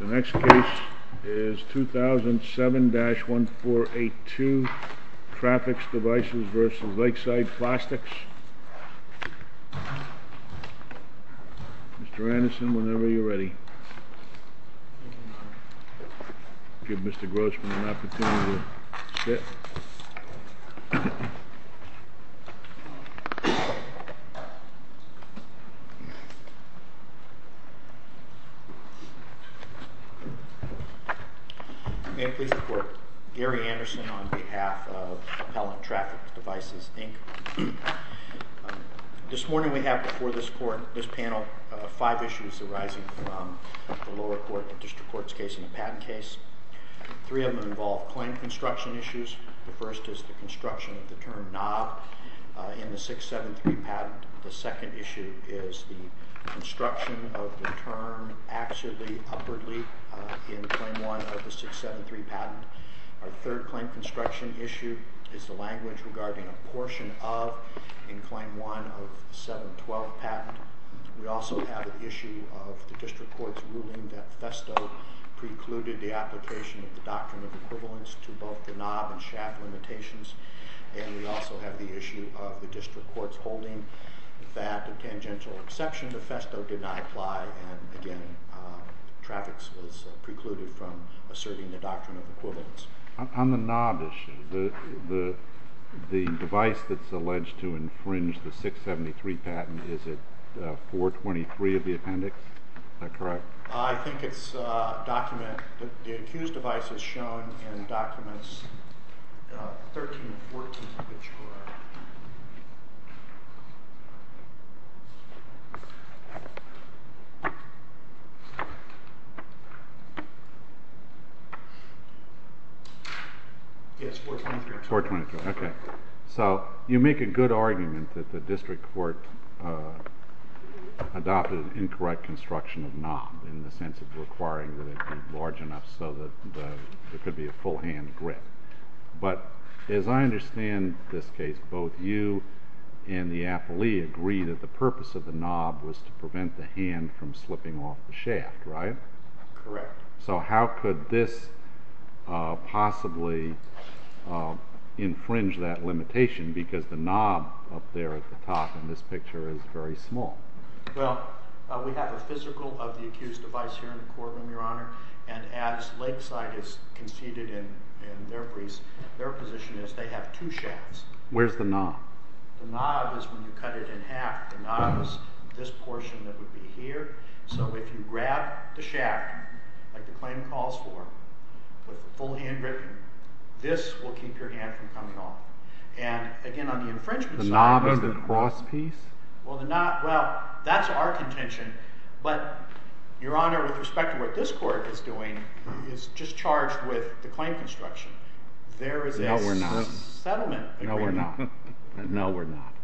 The next case is 2007-1482 Traffix Devices v. Lakeside Plastics Mr. Anderson, whenever you're ready Give Mr. Grossman an opportunity to sit Gary Anderson, Appellant, Traffix Devices, Inc. This morning we have before this panel five issues arising from the lower court the district court's case and the patent case Three of them involve claim construction issues The first is the construction of the term knob in the 673 patent The second issue is the construction of the term axially, upwardly, in Claim 1 of the 673 patent Our third claim construction issue is the language regarding a portion of in Claim 1 of the 712 patent We also have an issue of the district court's ruling that FESTO precluded the application of the doctrine of equivalence to both the knob and shaft limitations And we also have the issue of the district court's ruling that a tangential exception to FESTO did not apply, and again, Traffix was precluded from asserting the doctrine of equivalence On the knob issue, the device that's alleged to infringe the 673 patent, is it 423 of the appendix? Is that correct? I think it's a document, the accused device is shown in documents 13 and 14 Yes, 423 423, ok So, you make a good argument that the district court adopted an incorrect construction of knob in the sense of requiring that it be large enough so that there could be a full hand grip But, as I understand this case, both you and the appellee agree that the purpose of the knob was to prevent the hand from slipping off the shaft, right? Correct So how could this possibly infringe that limitation because the knob up there at the top in this picture is very small? here in the courtroom, your honor and as Lakeside has conceded in their position is they have two shafts Where's the knob? The knob is when you cut it in half The knob is this portion that would be here So if you grab the shaft, like the claim calls for with full hand gripping, this will keep your hand from coming off And again, on the infringement side The knob and the cross piece? Well, that's our contention, but your honor with respect to what this court is doing is just charged with the claim construction There is a settlement agreement No, we're not No, we're not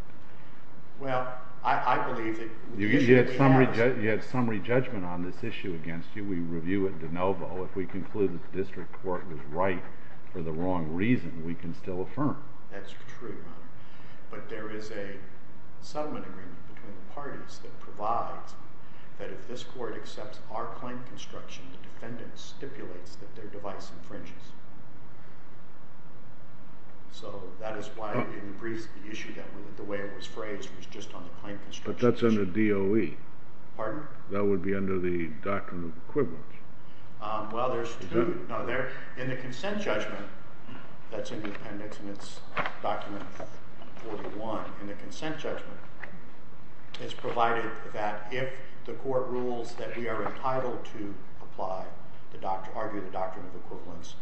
Well, I believe that You had summary judgment on this issue against you We review it de novo If we conclude that the district court was right for the wrong reason, we can still affirm That's true, your honor But there is a settlement agreement between the parties that provides that if this court accepts our claim construction the defendant stipulates that their device infringes So that is why in the briefs the issue, the way it was phrased was just on the claim construction But that's under DOE Pardon? That would be under the Doctrine of Equivalence Well, there's two In the consent judgment that's in the appendix and it's document 41 In the consent judgment it's provided that if the court rules that we are entitled to apply argue the Doctrine of Equivalence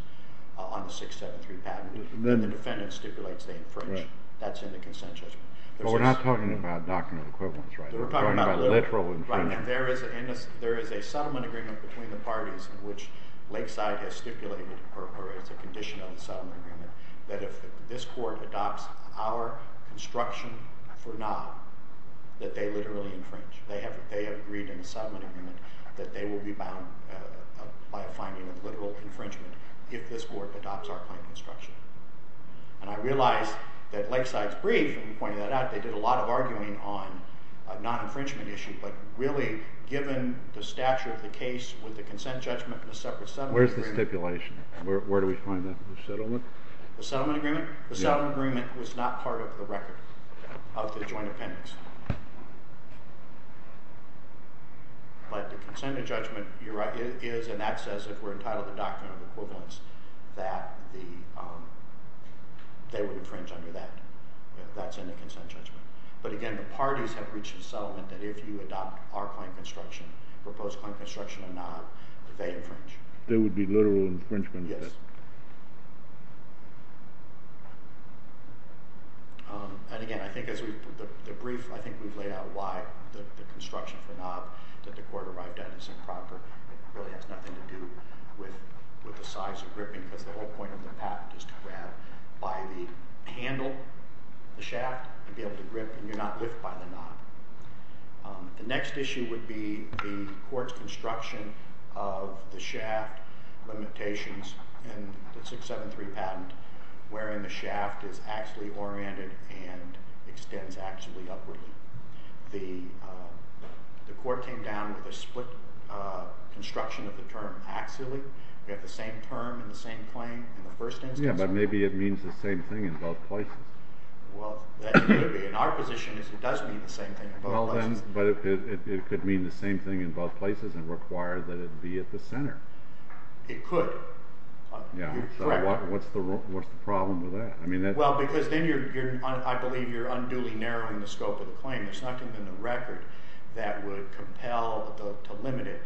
on the 673 patent then the defendant stipulates they infringe That's in the consent judgment But we're not talking about Doctrine of Equivalence, right? We're talking about literal infringement There is a settlement agreement between the parties in which Lakeside has stipulated or is a condition on the settlement agreement that if this court adopts our construction for now that they literally infringe They have agreed in the settlement agreement that they will be bound by a finding of literal infringement if this court adopts our claim construction And I realize that Lakeside's brief in pointing that out they did a lot of arguing on a non-infringement issue but really, given the stature of the case with the consent judgment and the separate settlement agreement Where's the stipulation? Where do we find that? The settlement? The settlement agreement? The settlement agreement was not part of the record of the joint appendix But the consent judgment is, and that says if we're entitled to Doctrine of Equivalence that they would infringe under that That's in the consent judgment But again, the parties have reached a settlement that if you adopt our claim construction proposed claim construction or not that they infringe There would be literal infringement? Yes And again, I think the brief I think we've laid out why the construction of the knob that the court arrived at is improper It really has nothing to do with the size of gripping because the whole point of the patent is to grab by the handle the shaft to be able to grip and you're not lift by the knob The next issue would be the court's construction of the shaft limitations in the 673 patent wherein the shaft is axially oriented and extends axially upward The court came down with a split construction of the term axially We have the same term and the same claim in the first instance Yeah, but maybe it means the same thing in both places Well, that could be In our position it does mean the same thing in both places But it could mean the same thing in both places and require that it be at the center It could What's the problem with that? Well, because then I believe you're unduly narrowing the scope of the claim There's nothing in the record that would compel to limit it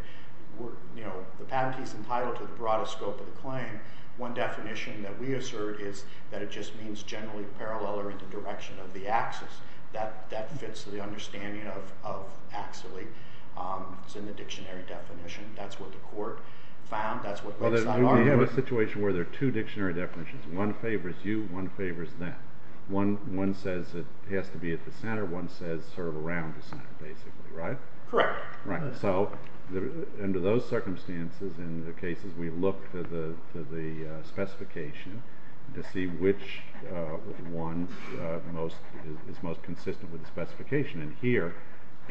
The patent is entitled to the broadest scope of the claim One definition that we assert is that it just means generally parallel or in the direction of the axis That fits the understanding of axially It's in the dictionary definition That's what the court found We have a situation where there are two dictionary definitions One favors you One favors them One says it has to be at the center One says sort of around the center basically, right? Correct So under those circumstances in the cases we look to the specification to see which one is most consistent with the specification And here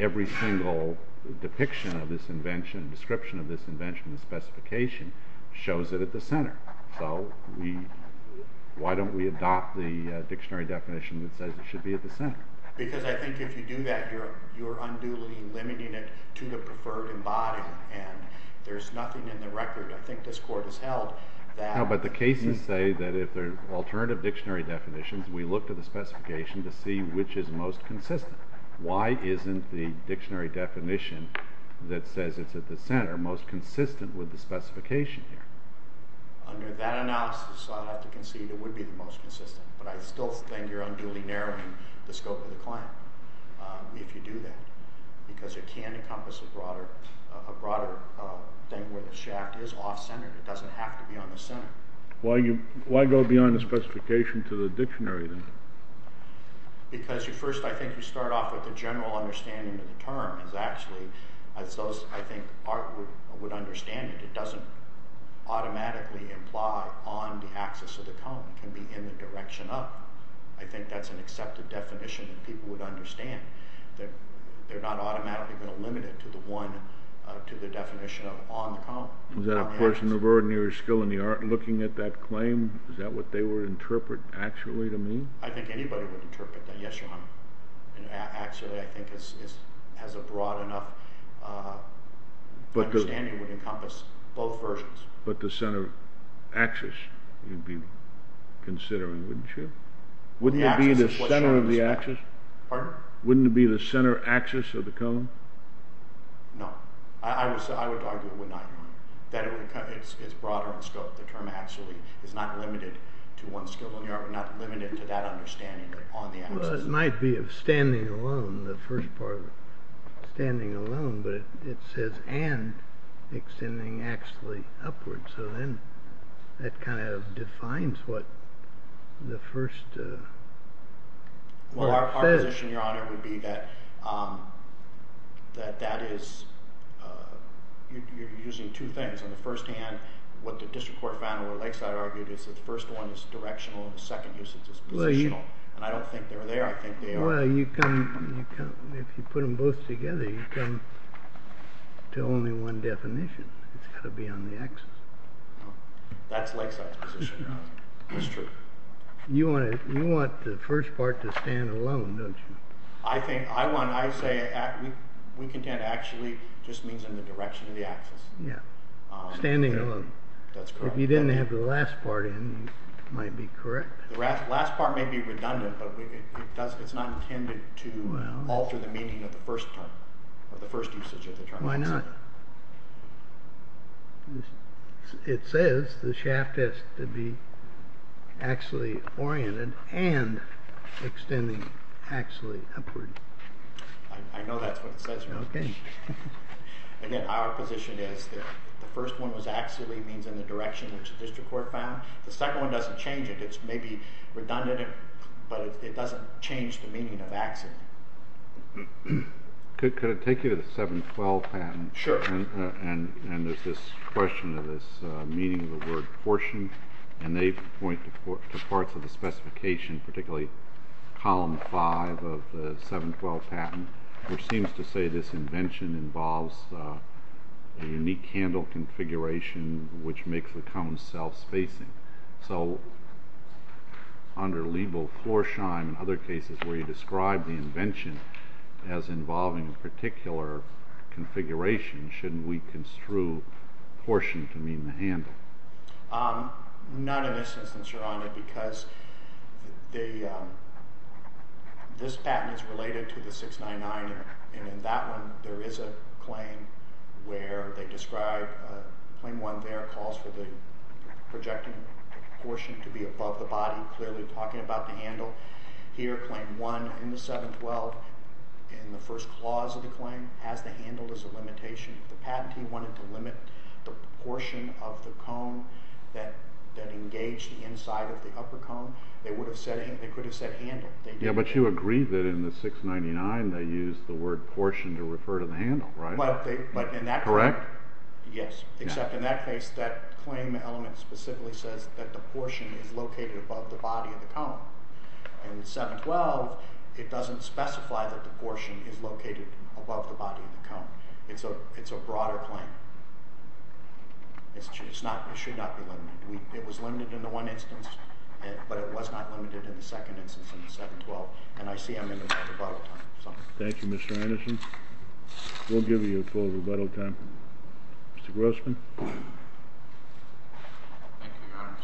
every single depiction of this invention description of this invention in the specification shows it at the center So why don't we adopt the dictionary definition that says it should be at the center? Because I think if you do that you're unduly limiting it to the preferred embodiment and there's nothing in the record I think this court has held No, but the cases say that if there are alternative dictionary definitions we look to the specification to see which is most consistent Why isn't the dictionary definition that says it's at the center most consistent with the specification here? Under that analysis I'd have to concede it would be the most consistent but I still think you're unduly narrowing the scope of the claim if you do that because it can encompass a broader thing where the shaft is off-centered it doesn't have to be on the center Why go beyond the specification to the dictionary then? Because first I think you start off with the general understanding of the term is actually as those I think would understand it it doesn't automatically imply on the axis of the cone it can be in the direction up I think that's an accepted definition that people would understand that they're not automatically going to limit it to the definition of on the cone Is that a portion of ordinary skill in the art looking at that claim? Is that what they would interpret actually to mean? I think anybody would interpret that yes your honor actually I think has a broad enough understanding would encompass both versions But the center axis you'd be considering wouldn't you? Wouldn't it be the center of the axis? Pardon? Wouldn't it be the center axis of the cone? No I would argue it would not that it would it's broader in scope the term actually is not limited to one skill in the art would not limit it to that understanding on the axis It might be of standing alone the first part standing alone but it says and extending axially upwards so then that kind of defines what the first Well our position your honor would be that that that is you're using two things on the first hand what the district court found or the lakeside argued is that the first one is directional and the second usage is positional and I don't think they're there I think they are Well you can if you put them both together you come to only one definition it's got to be on the axis That's lakeside's position That's true You want you want the first part to stand alone don't you? I think I want I would say we contend actually just means in the direction of the axis Yeah Standing alone That's correct If you didn't have the last part in it might be correct The last part may be redundant but it's not intended to alter the meaning of the first part or the first usage of the term Why not? It says the shaft has to be axially oriented and extending axially upward I know that's what it says Okay Again our position is that the first one was axially means in the direction which the district court found the second one doesn't change it It's maybe redundant but it doesn't change the meaning of axis Could I take you to the 712 patent? Sure And there's this question of this meaning of the word portion and they point to parts of the specification particularly column 5 of the 712 patent which seems to say this invention involves a unique handle configuration which makes the cone self-spacing So under legal floor shine and other cases where you describe the invention as involving a particular configuration shouldn't we construe portion to mean the handle? None of this instance are on it because this patent is related to the 699 and in that one there is a claim where they describe claim 1 there calls for the projecting portion to be above the body clearly talking about the handle here claim 1 in the 712 in the first clause of the claim has the handle as a limitation the patent wanted to limit the portion of the cone that engaged the inside of the upper cone they could have said handle but you agree that in the 699 they used the word portion to refer to the handle correct? yes except in that case that claim element specifically says that the portion is located above the body of the cone in 712 it doesn't specify that the portion is located above the body of the cone it's a broader claim it should not be limited it was limited in the one instance but it was not limited in the second instance in the 712 and I see I'm in the rebuttal time thank you Mr. Anderson we'll give you a full rebuttal time Mr. Grossman thank you your honor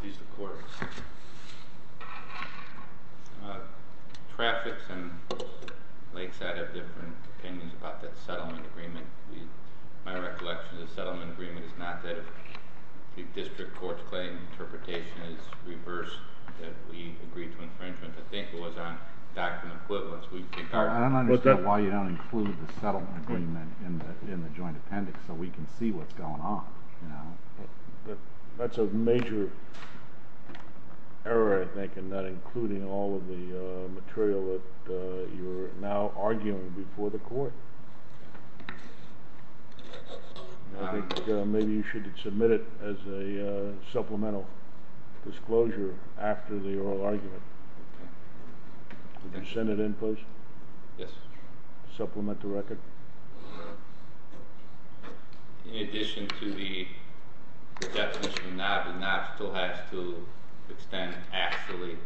please the court traffic and lakeside have different opinions about that settlement agreement my recollection of the settlement agreement is not that the district court's claim interpretation is reversed that we agree to infringement I think it was on document equivalence I don't understand why you don't include the settlement agreement in the joint appendix so we can see what's going on that's a major error I think in not including all of the material that you're now arguing before the court I think maybe you should submit it as a supplemental disclosure after the oral argument would you send it in please yes supplement the record in addition to the definition now the now still has to extend actually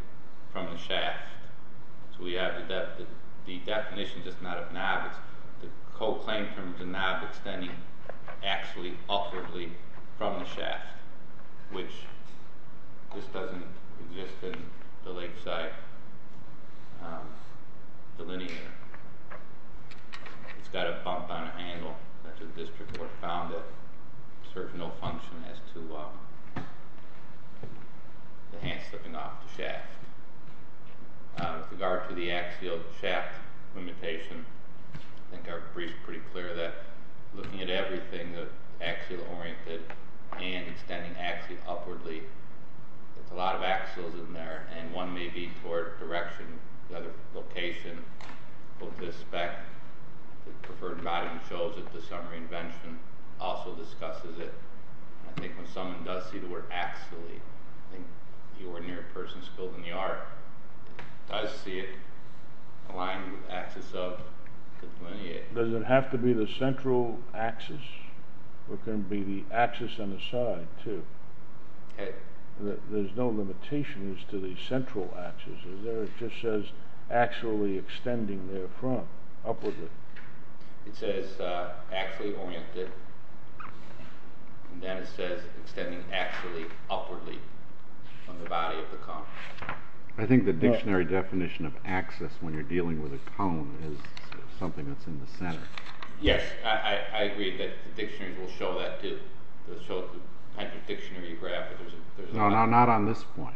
does it have to be the central axis or can it be the axis on the side too there's no limitation to the central axis is there it just says actually extending their front upwardly it says actually oriented and then it says extending actually upwardly on the body of the cone I think the dictionary definition of axis when you're dealing with a cone is something that's in the center yes I agree that the dictionary will show that too no not on this point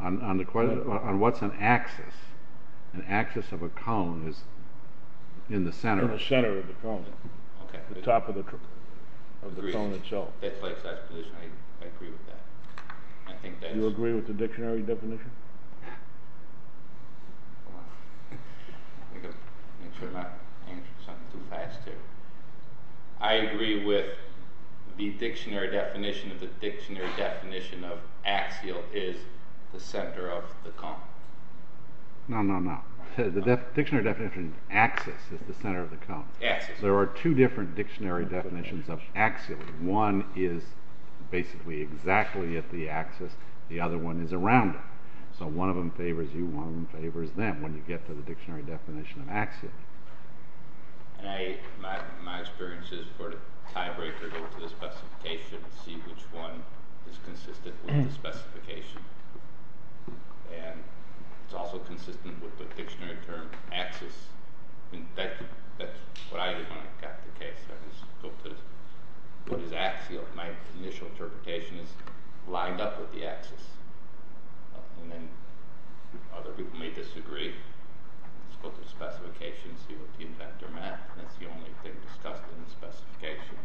on what's an axis an axis of a cone I agree with that do you agree with the dictionary definition I agree with the dictionary definition of the dictionary definition of axial is the center of the cone no no no the dictionary definition axis is the center of the cone axis there are two different dictionary definitions of axial one is basically exactly at the axis the other one is around it so one of them favors you one of them favors them when you get to the dictionary definition of axial my experience is for the dictionary that's what I did when I got the case I spoke to what is axial my initial interpretation is lined up with the axis and then other people may disagree I spoke to the specification see what the inventor meant that's the only thing discussed in the specification in the chapter spoke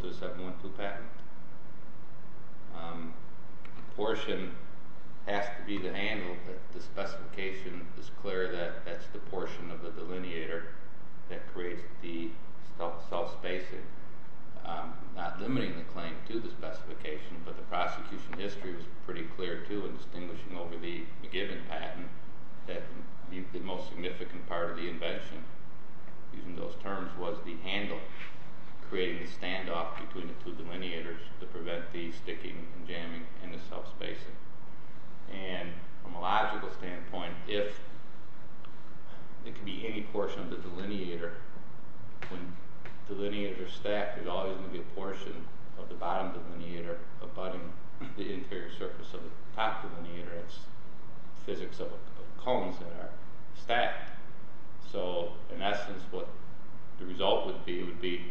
to the 712 patent portion has to be the handle that the specification is clear that that's the portion of the delineator that creates the self spacing not limiting the claim to the specification but the prosecution history was pretty clear too in distinguishing over the given patent that the most significant part of the invention using those terms was the handle creating the standoff between the two delineators to prevent the sticking and jamming and the self spacing and from a logical standpoint if it can be any portion of the delineator when delineators are stacked it's always going to be a portion of the bottom delineator abutting the interior surface of the top delineator it's physics of cones that are stacked so in essence what the result would be would be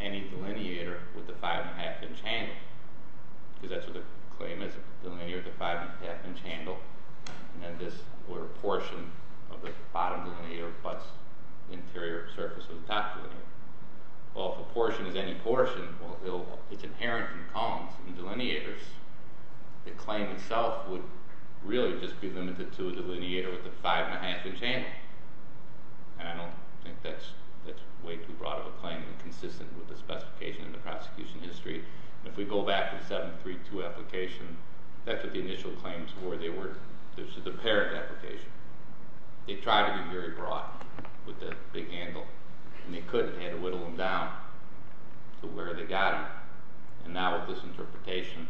any delineator with the 5.5 inch handle because that's what the claim itself would really just be limited to a delineator with a 5.5 inch handle and I don't think that's way too broad of a claim and consistent with the specification in the prosecution history and if we go back to the 732 application that's what the initial claims were they were the parent application they tried to be very broad with the big handle and they couldn't they had to whittle them down to where they got them and now with this interpretation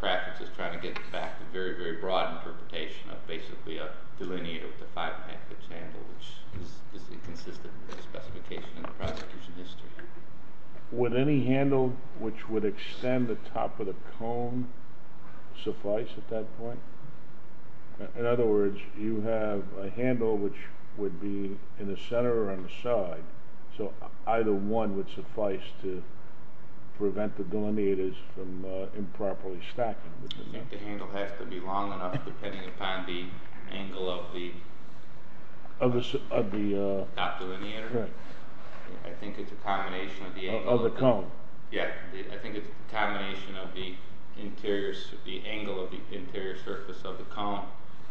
traffic is trying to get back the very very broad interpretation of basically a delineator with a 5.5 inch handle which is consistent with the prosecution history would any handle which would extend the top of the cone suffice at that point in other words you have a handle which would be in the center or on the side so either one would suffice to prevent the delineators from improperly stacking the handle has to be long enough depending upon the angle of the of the top delineator I think it's a combination of the of the cone yeah I think it's a combination of the interior the angle of the interior surface of the cone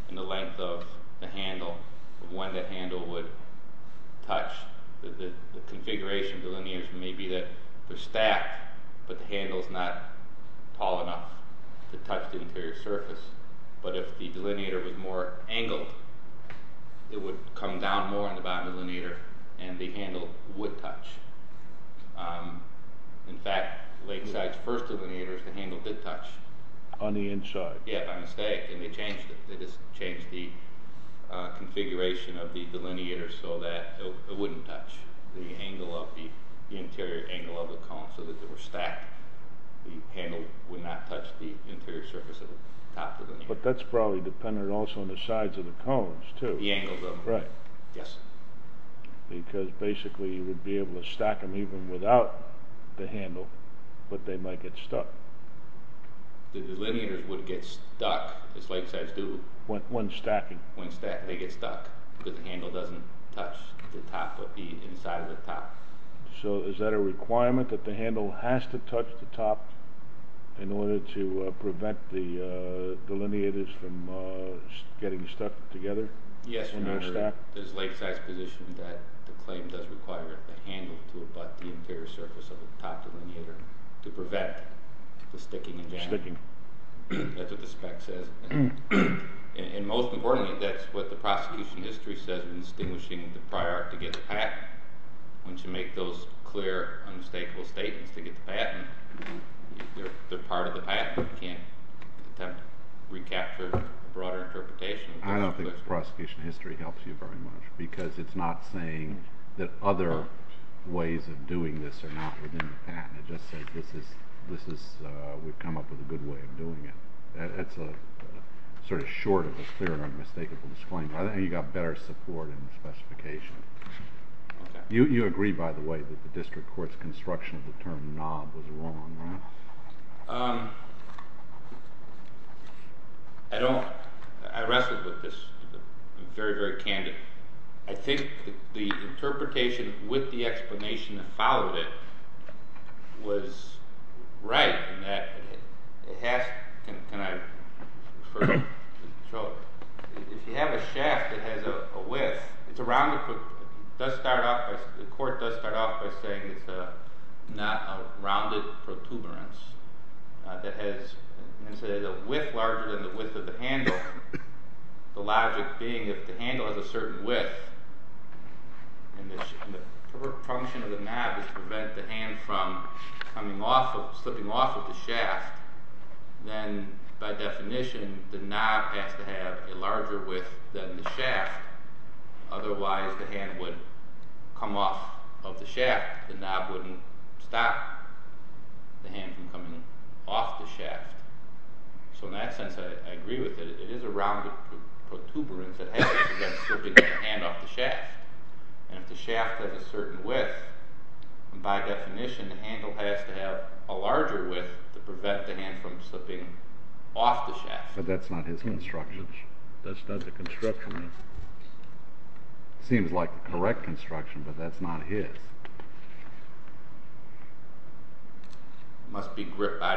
and the length of the handle of when the handle would touch the configuration of the delineators may be that they're on the inside of the delineator and the handle would touch in fact lakeside's first delineator the handle did touch on the inside yeah by mistake and they changed it they just changed the configuration of the delineator so that it wouldn't touch the angle of the interior of the cone so that they were stacked the handle would not touch the interior surface of the top of the delineator but that's probably dependent also on the sides of the cones too the angles of them right yes because basically you would be able to stack them even without the handle but they might get stuck together yes there's lakeside's position that the claim does require the handle to abut the interior surface of the top delineator to prevent the sticking and jamming that's what the spec says and most importantly that's what the prosecution history says in extinguishing the prior to get the patent once you make those clear unmistakable statements to get the patent they're part of the patent you can't attempt to recapture a broader interpretation I don't think the prosecution history helps you very much because it's not saying that other ways of doing this are not within the patent it just says this is we've come up with a good way of doing it it's a sort of short of a clear and unmistakable disclaimer I think you've got better support in the specification you agree by the way that the district court's construction of the term knob was wrong right? I don't I wrestled with this very very candidly I think the interpretation with the explanation that followed it was right in that it has can I show if you have a shaft that has a width it's a rounded does start off the court does start off by saying it's not a rounded protuberance that has a width larger than the width of the handle the logic being if the handle has a certain width and the function of the knob is to prevent the hand from slipping off of the shaft then by definition the knob has to have a larger width than the shaft otherwise the hand would come off of the shaft the knob wouldn't stop the hand from slipping off the shaft and if the shaft has a certain width by definition the handle has to have a larger width to prevent the hand from slipping off the shaft but that's not his construction seems like the correct construction but that's not his must be the shaft must be gripped by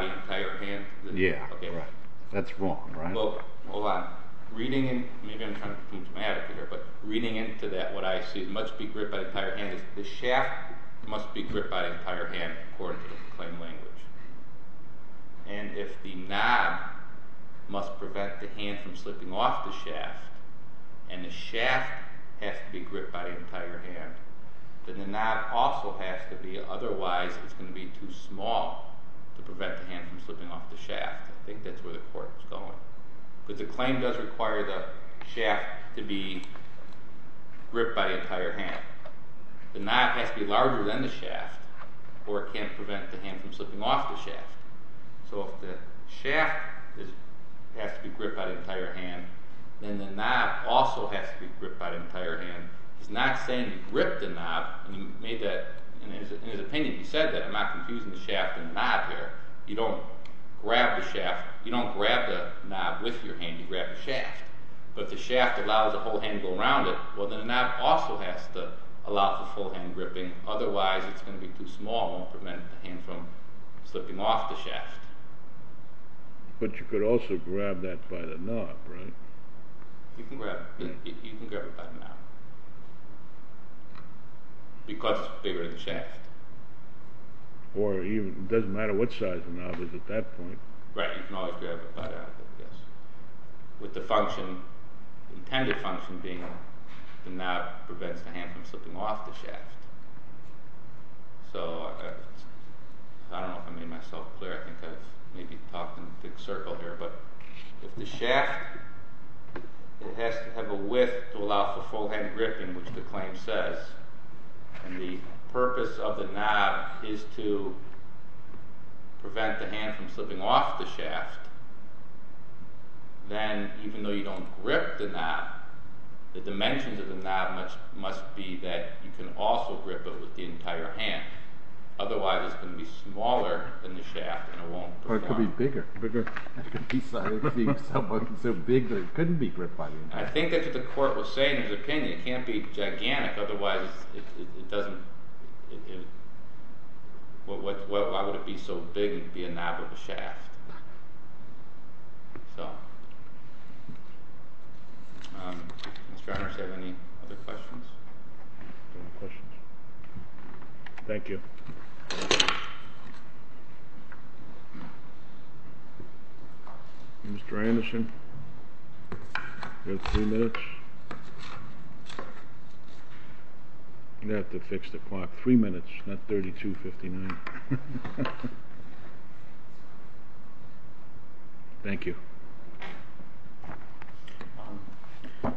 the entire hand according to the claim language and if the knob must prevent the hand from slipping off the shaft and the shaft has to be gripped by the entire hand then the knob also has to be otherwise it's going to be too small to prevent the hand from slipping off the shaft I think that's where the court was going but the claim does require the shaft to be gripped by the entire hand has to be larger than the shaft or it can't prevent the hand from slipping off the shaft so if the shaft has to be gripped by the entire hand then the knob also has to be gripped by the entire hand he's not saying he gripped the knob in his opinion he said that I'm not confusing the shaft and the knob here you don't grab the knob by the shaft but you could also grab that by the knob right you can grab it by the knob because it's bigger than the shaft or it doesn't matter what size the knob is at that point right you can always grab it by the knob with the function the intended function being the knob prevents the hand from slipping off the shaft so I don't know if I made myself clear I think I've maybe talked in a big circle here but if the shaft has to have a width to allow for full hand gripping which the claim says and the claim says then even though you don't grip the knob the dimensions of the knob must be that you can also grip it with the entire hand otherwise it's going to be smaller than the shaft and it won't go down I think that's what the court was saying in his opinion it can't be gigantic otherwise it doesn't why would it be so big it would be a knob of a shaft so Mr. Anderson do you have any other questions no questions thank you Mr. Anderson you have three minutes you have to fix the clock three minutes not thirty two fifty nine thank you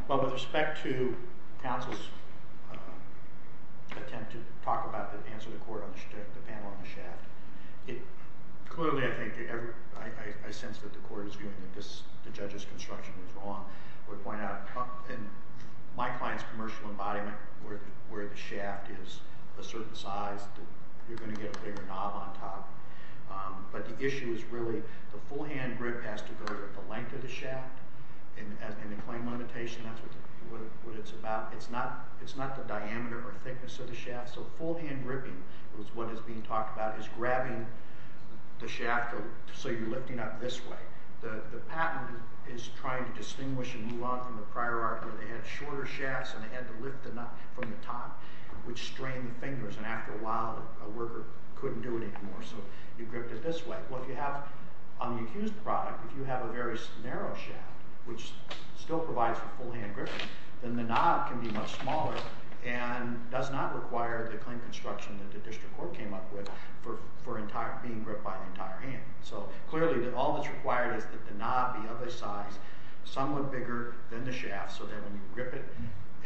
well with respect to counsel's attempt to talk about the answer to the court on the panel on the shaft it clearly I think I sense that the court is arguing that the judge's construction was wrong and my client's commercial embodiment where the shaft is a certain size you're going to get a bigger knob on top but the issue is really the full hand grip has to go to the length of the shaft and the claim limitation that's what it's about it's not the diameter or thickness of the shaft so full hand gripping is what is being talked about is grabbing the shaft so you're lifting up this way the patent is trying to distinguish and move on from the prior art where they had shorter shafts and they had to lift the knob from the top which strained the fingers and after a while a worker couldn't do it anymore so you gripped it this way well if you have on the accused product if you have a very narrow shaft which still provides full hand gripping then the knob can be much smaller and does not require the claim construction that the district court came up with for being gripped by the entire hand so clearly all that's required is that the knob be of a size somewhat bigger than the shaft so that when you grip it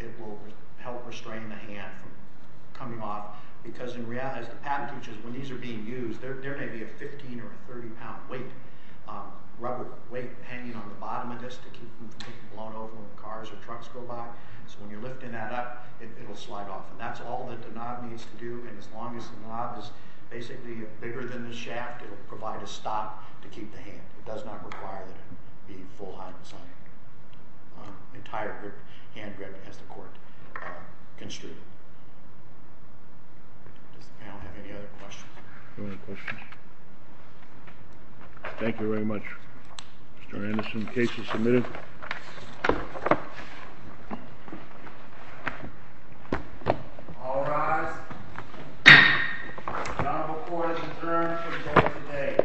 it will help restrain the hand from coming off because in reality the patent teaches when these are being used there may be a 15 or a 30 pound weight rubber weight hanging on the bottom of this to keep them from getting blown over when cars or trucks go by so when you're lifting that up it will slide off and that's all that the knob needs to do and as long as the knob is basically bigger than the shaft it will provide a stop to keep the hand. It does not require that it be full hand gripping. Does the panel have any other questions? Thank you very much. Mr. Anderson case is submitted. All rise. The noble adjourned for the day.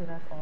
1 3 5 4 3 2 1 0 So that was the interview so that concludes the presentation thank you very much. Thank you very much. 1 11 12 13 14 15 16 17 18 19 20 21 22 23 24 25 26 27 28 29 31 32 37 38 39 40 41 42 43 44 45 46 47 48 49 50 51 52 53 54 55 56 57 58 59 68 69 70 71 72 73 74 75 76 77 78 79 80 81 82 83 84 85 86 87 88 89 90 91 92 93 94 95 96 97 98 99 100 101 102 103 104 105 105 106 17 17 18 19 20 21 22 23 24 25 26 27 28 29 35 36 37 38 39 40 41 42 43 44 45 46 47 48 49 50 51 52 53 54 58 59 60 61 62 63 64 65 66 67 68 69 70 71 72 73 74 75 76 77 78 78 79 80 81 82 85 88 89 90 91 92 93 94 95 96 97 98 99 100 101 102 103 104 104 105 105 106 17 17 18 22 23 24 25 26 28 29 30 31 32 33 34 35 36 37 38 39 40 41 42 43 44 45 46 47 48 49 50 51 52 53 54 55 56 57 58 59 60 61 62 63 64 65 66 67 68 69 70 71 72 73 74 75 76 86 87 88 89 90 91 92 93 94 95 96 97 98 99 100 101 102 103 104 117 118 119 120 121 122 123 124 125 126 127 128 129 120 111 112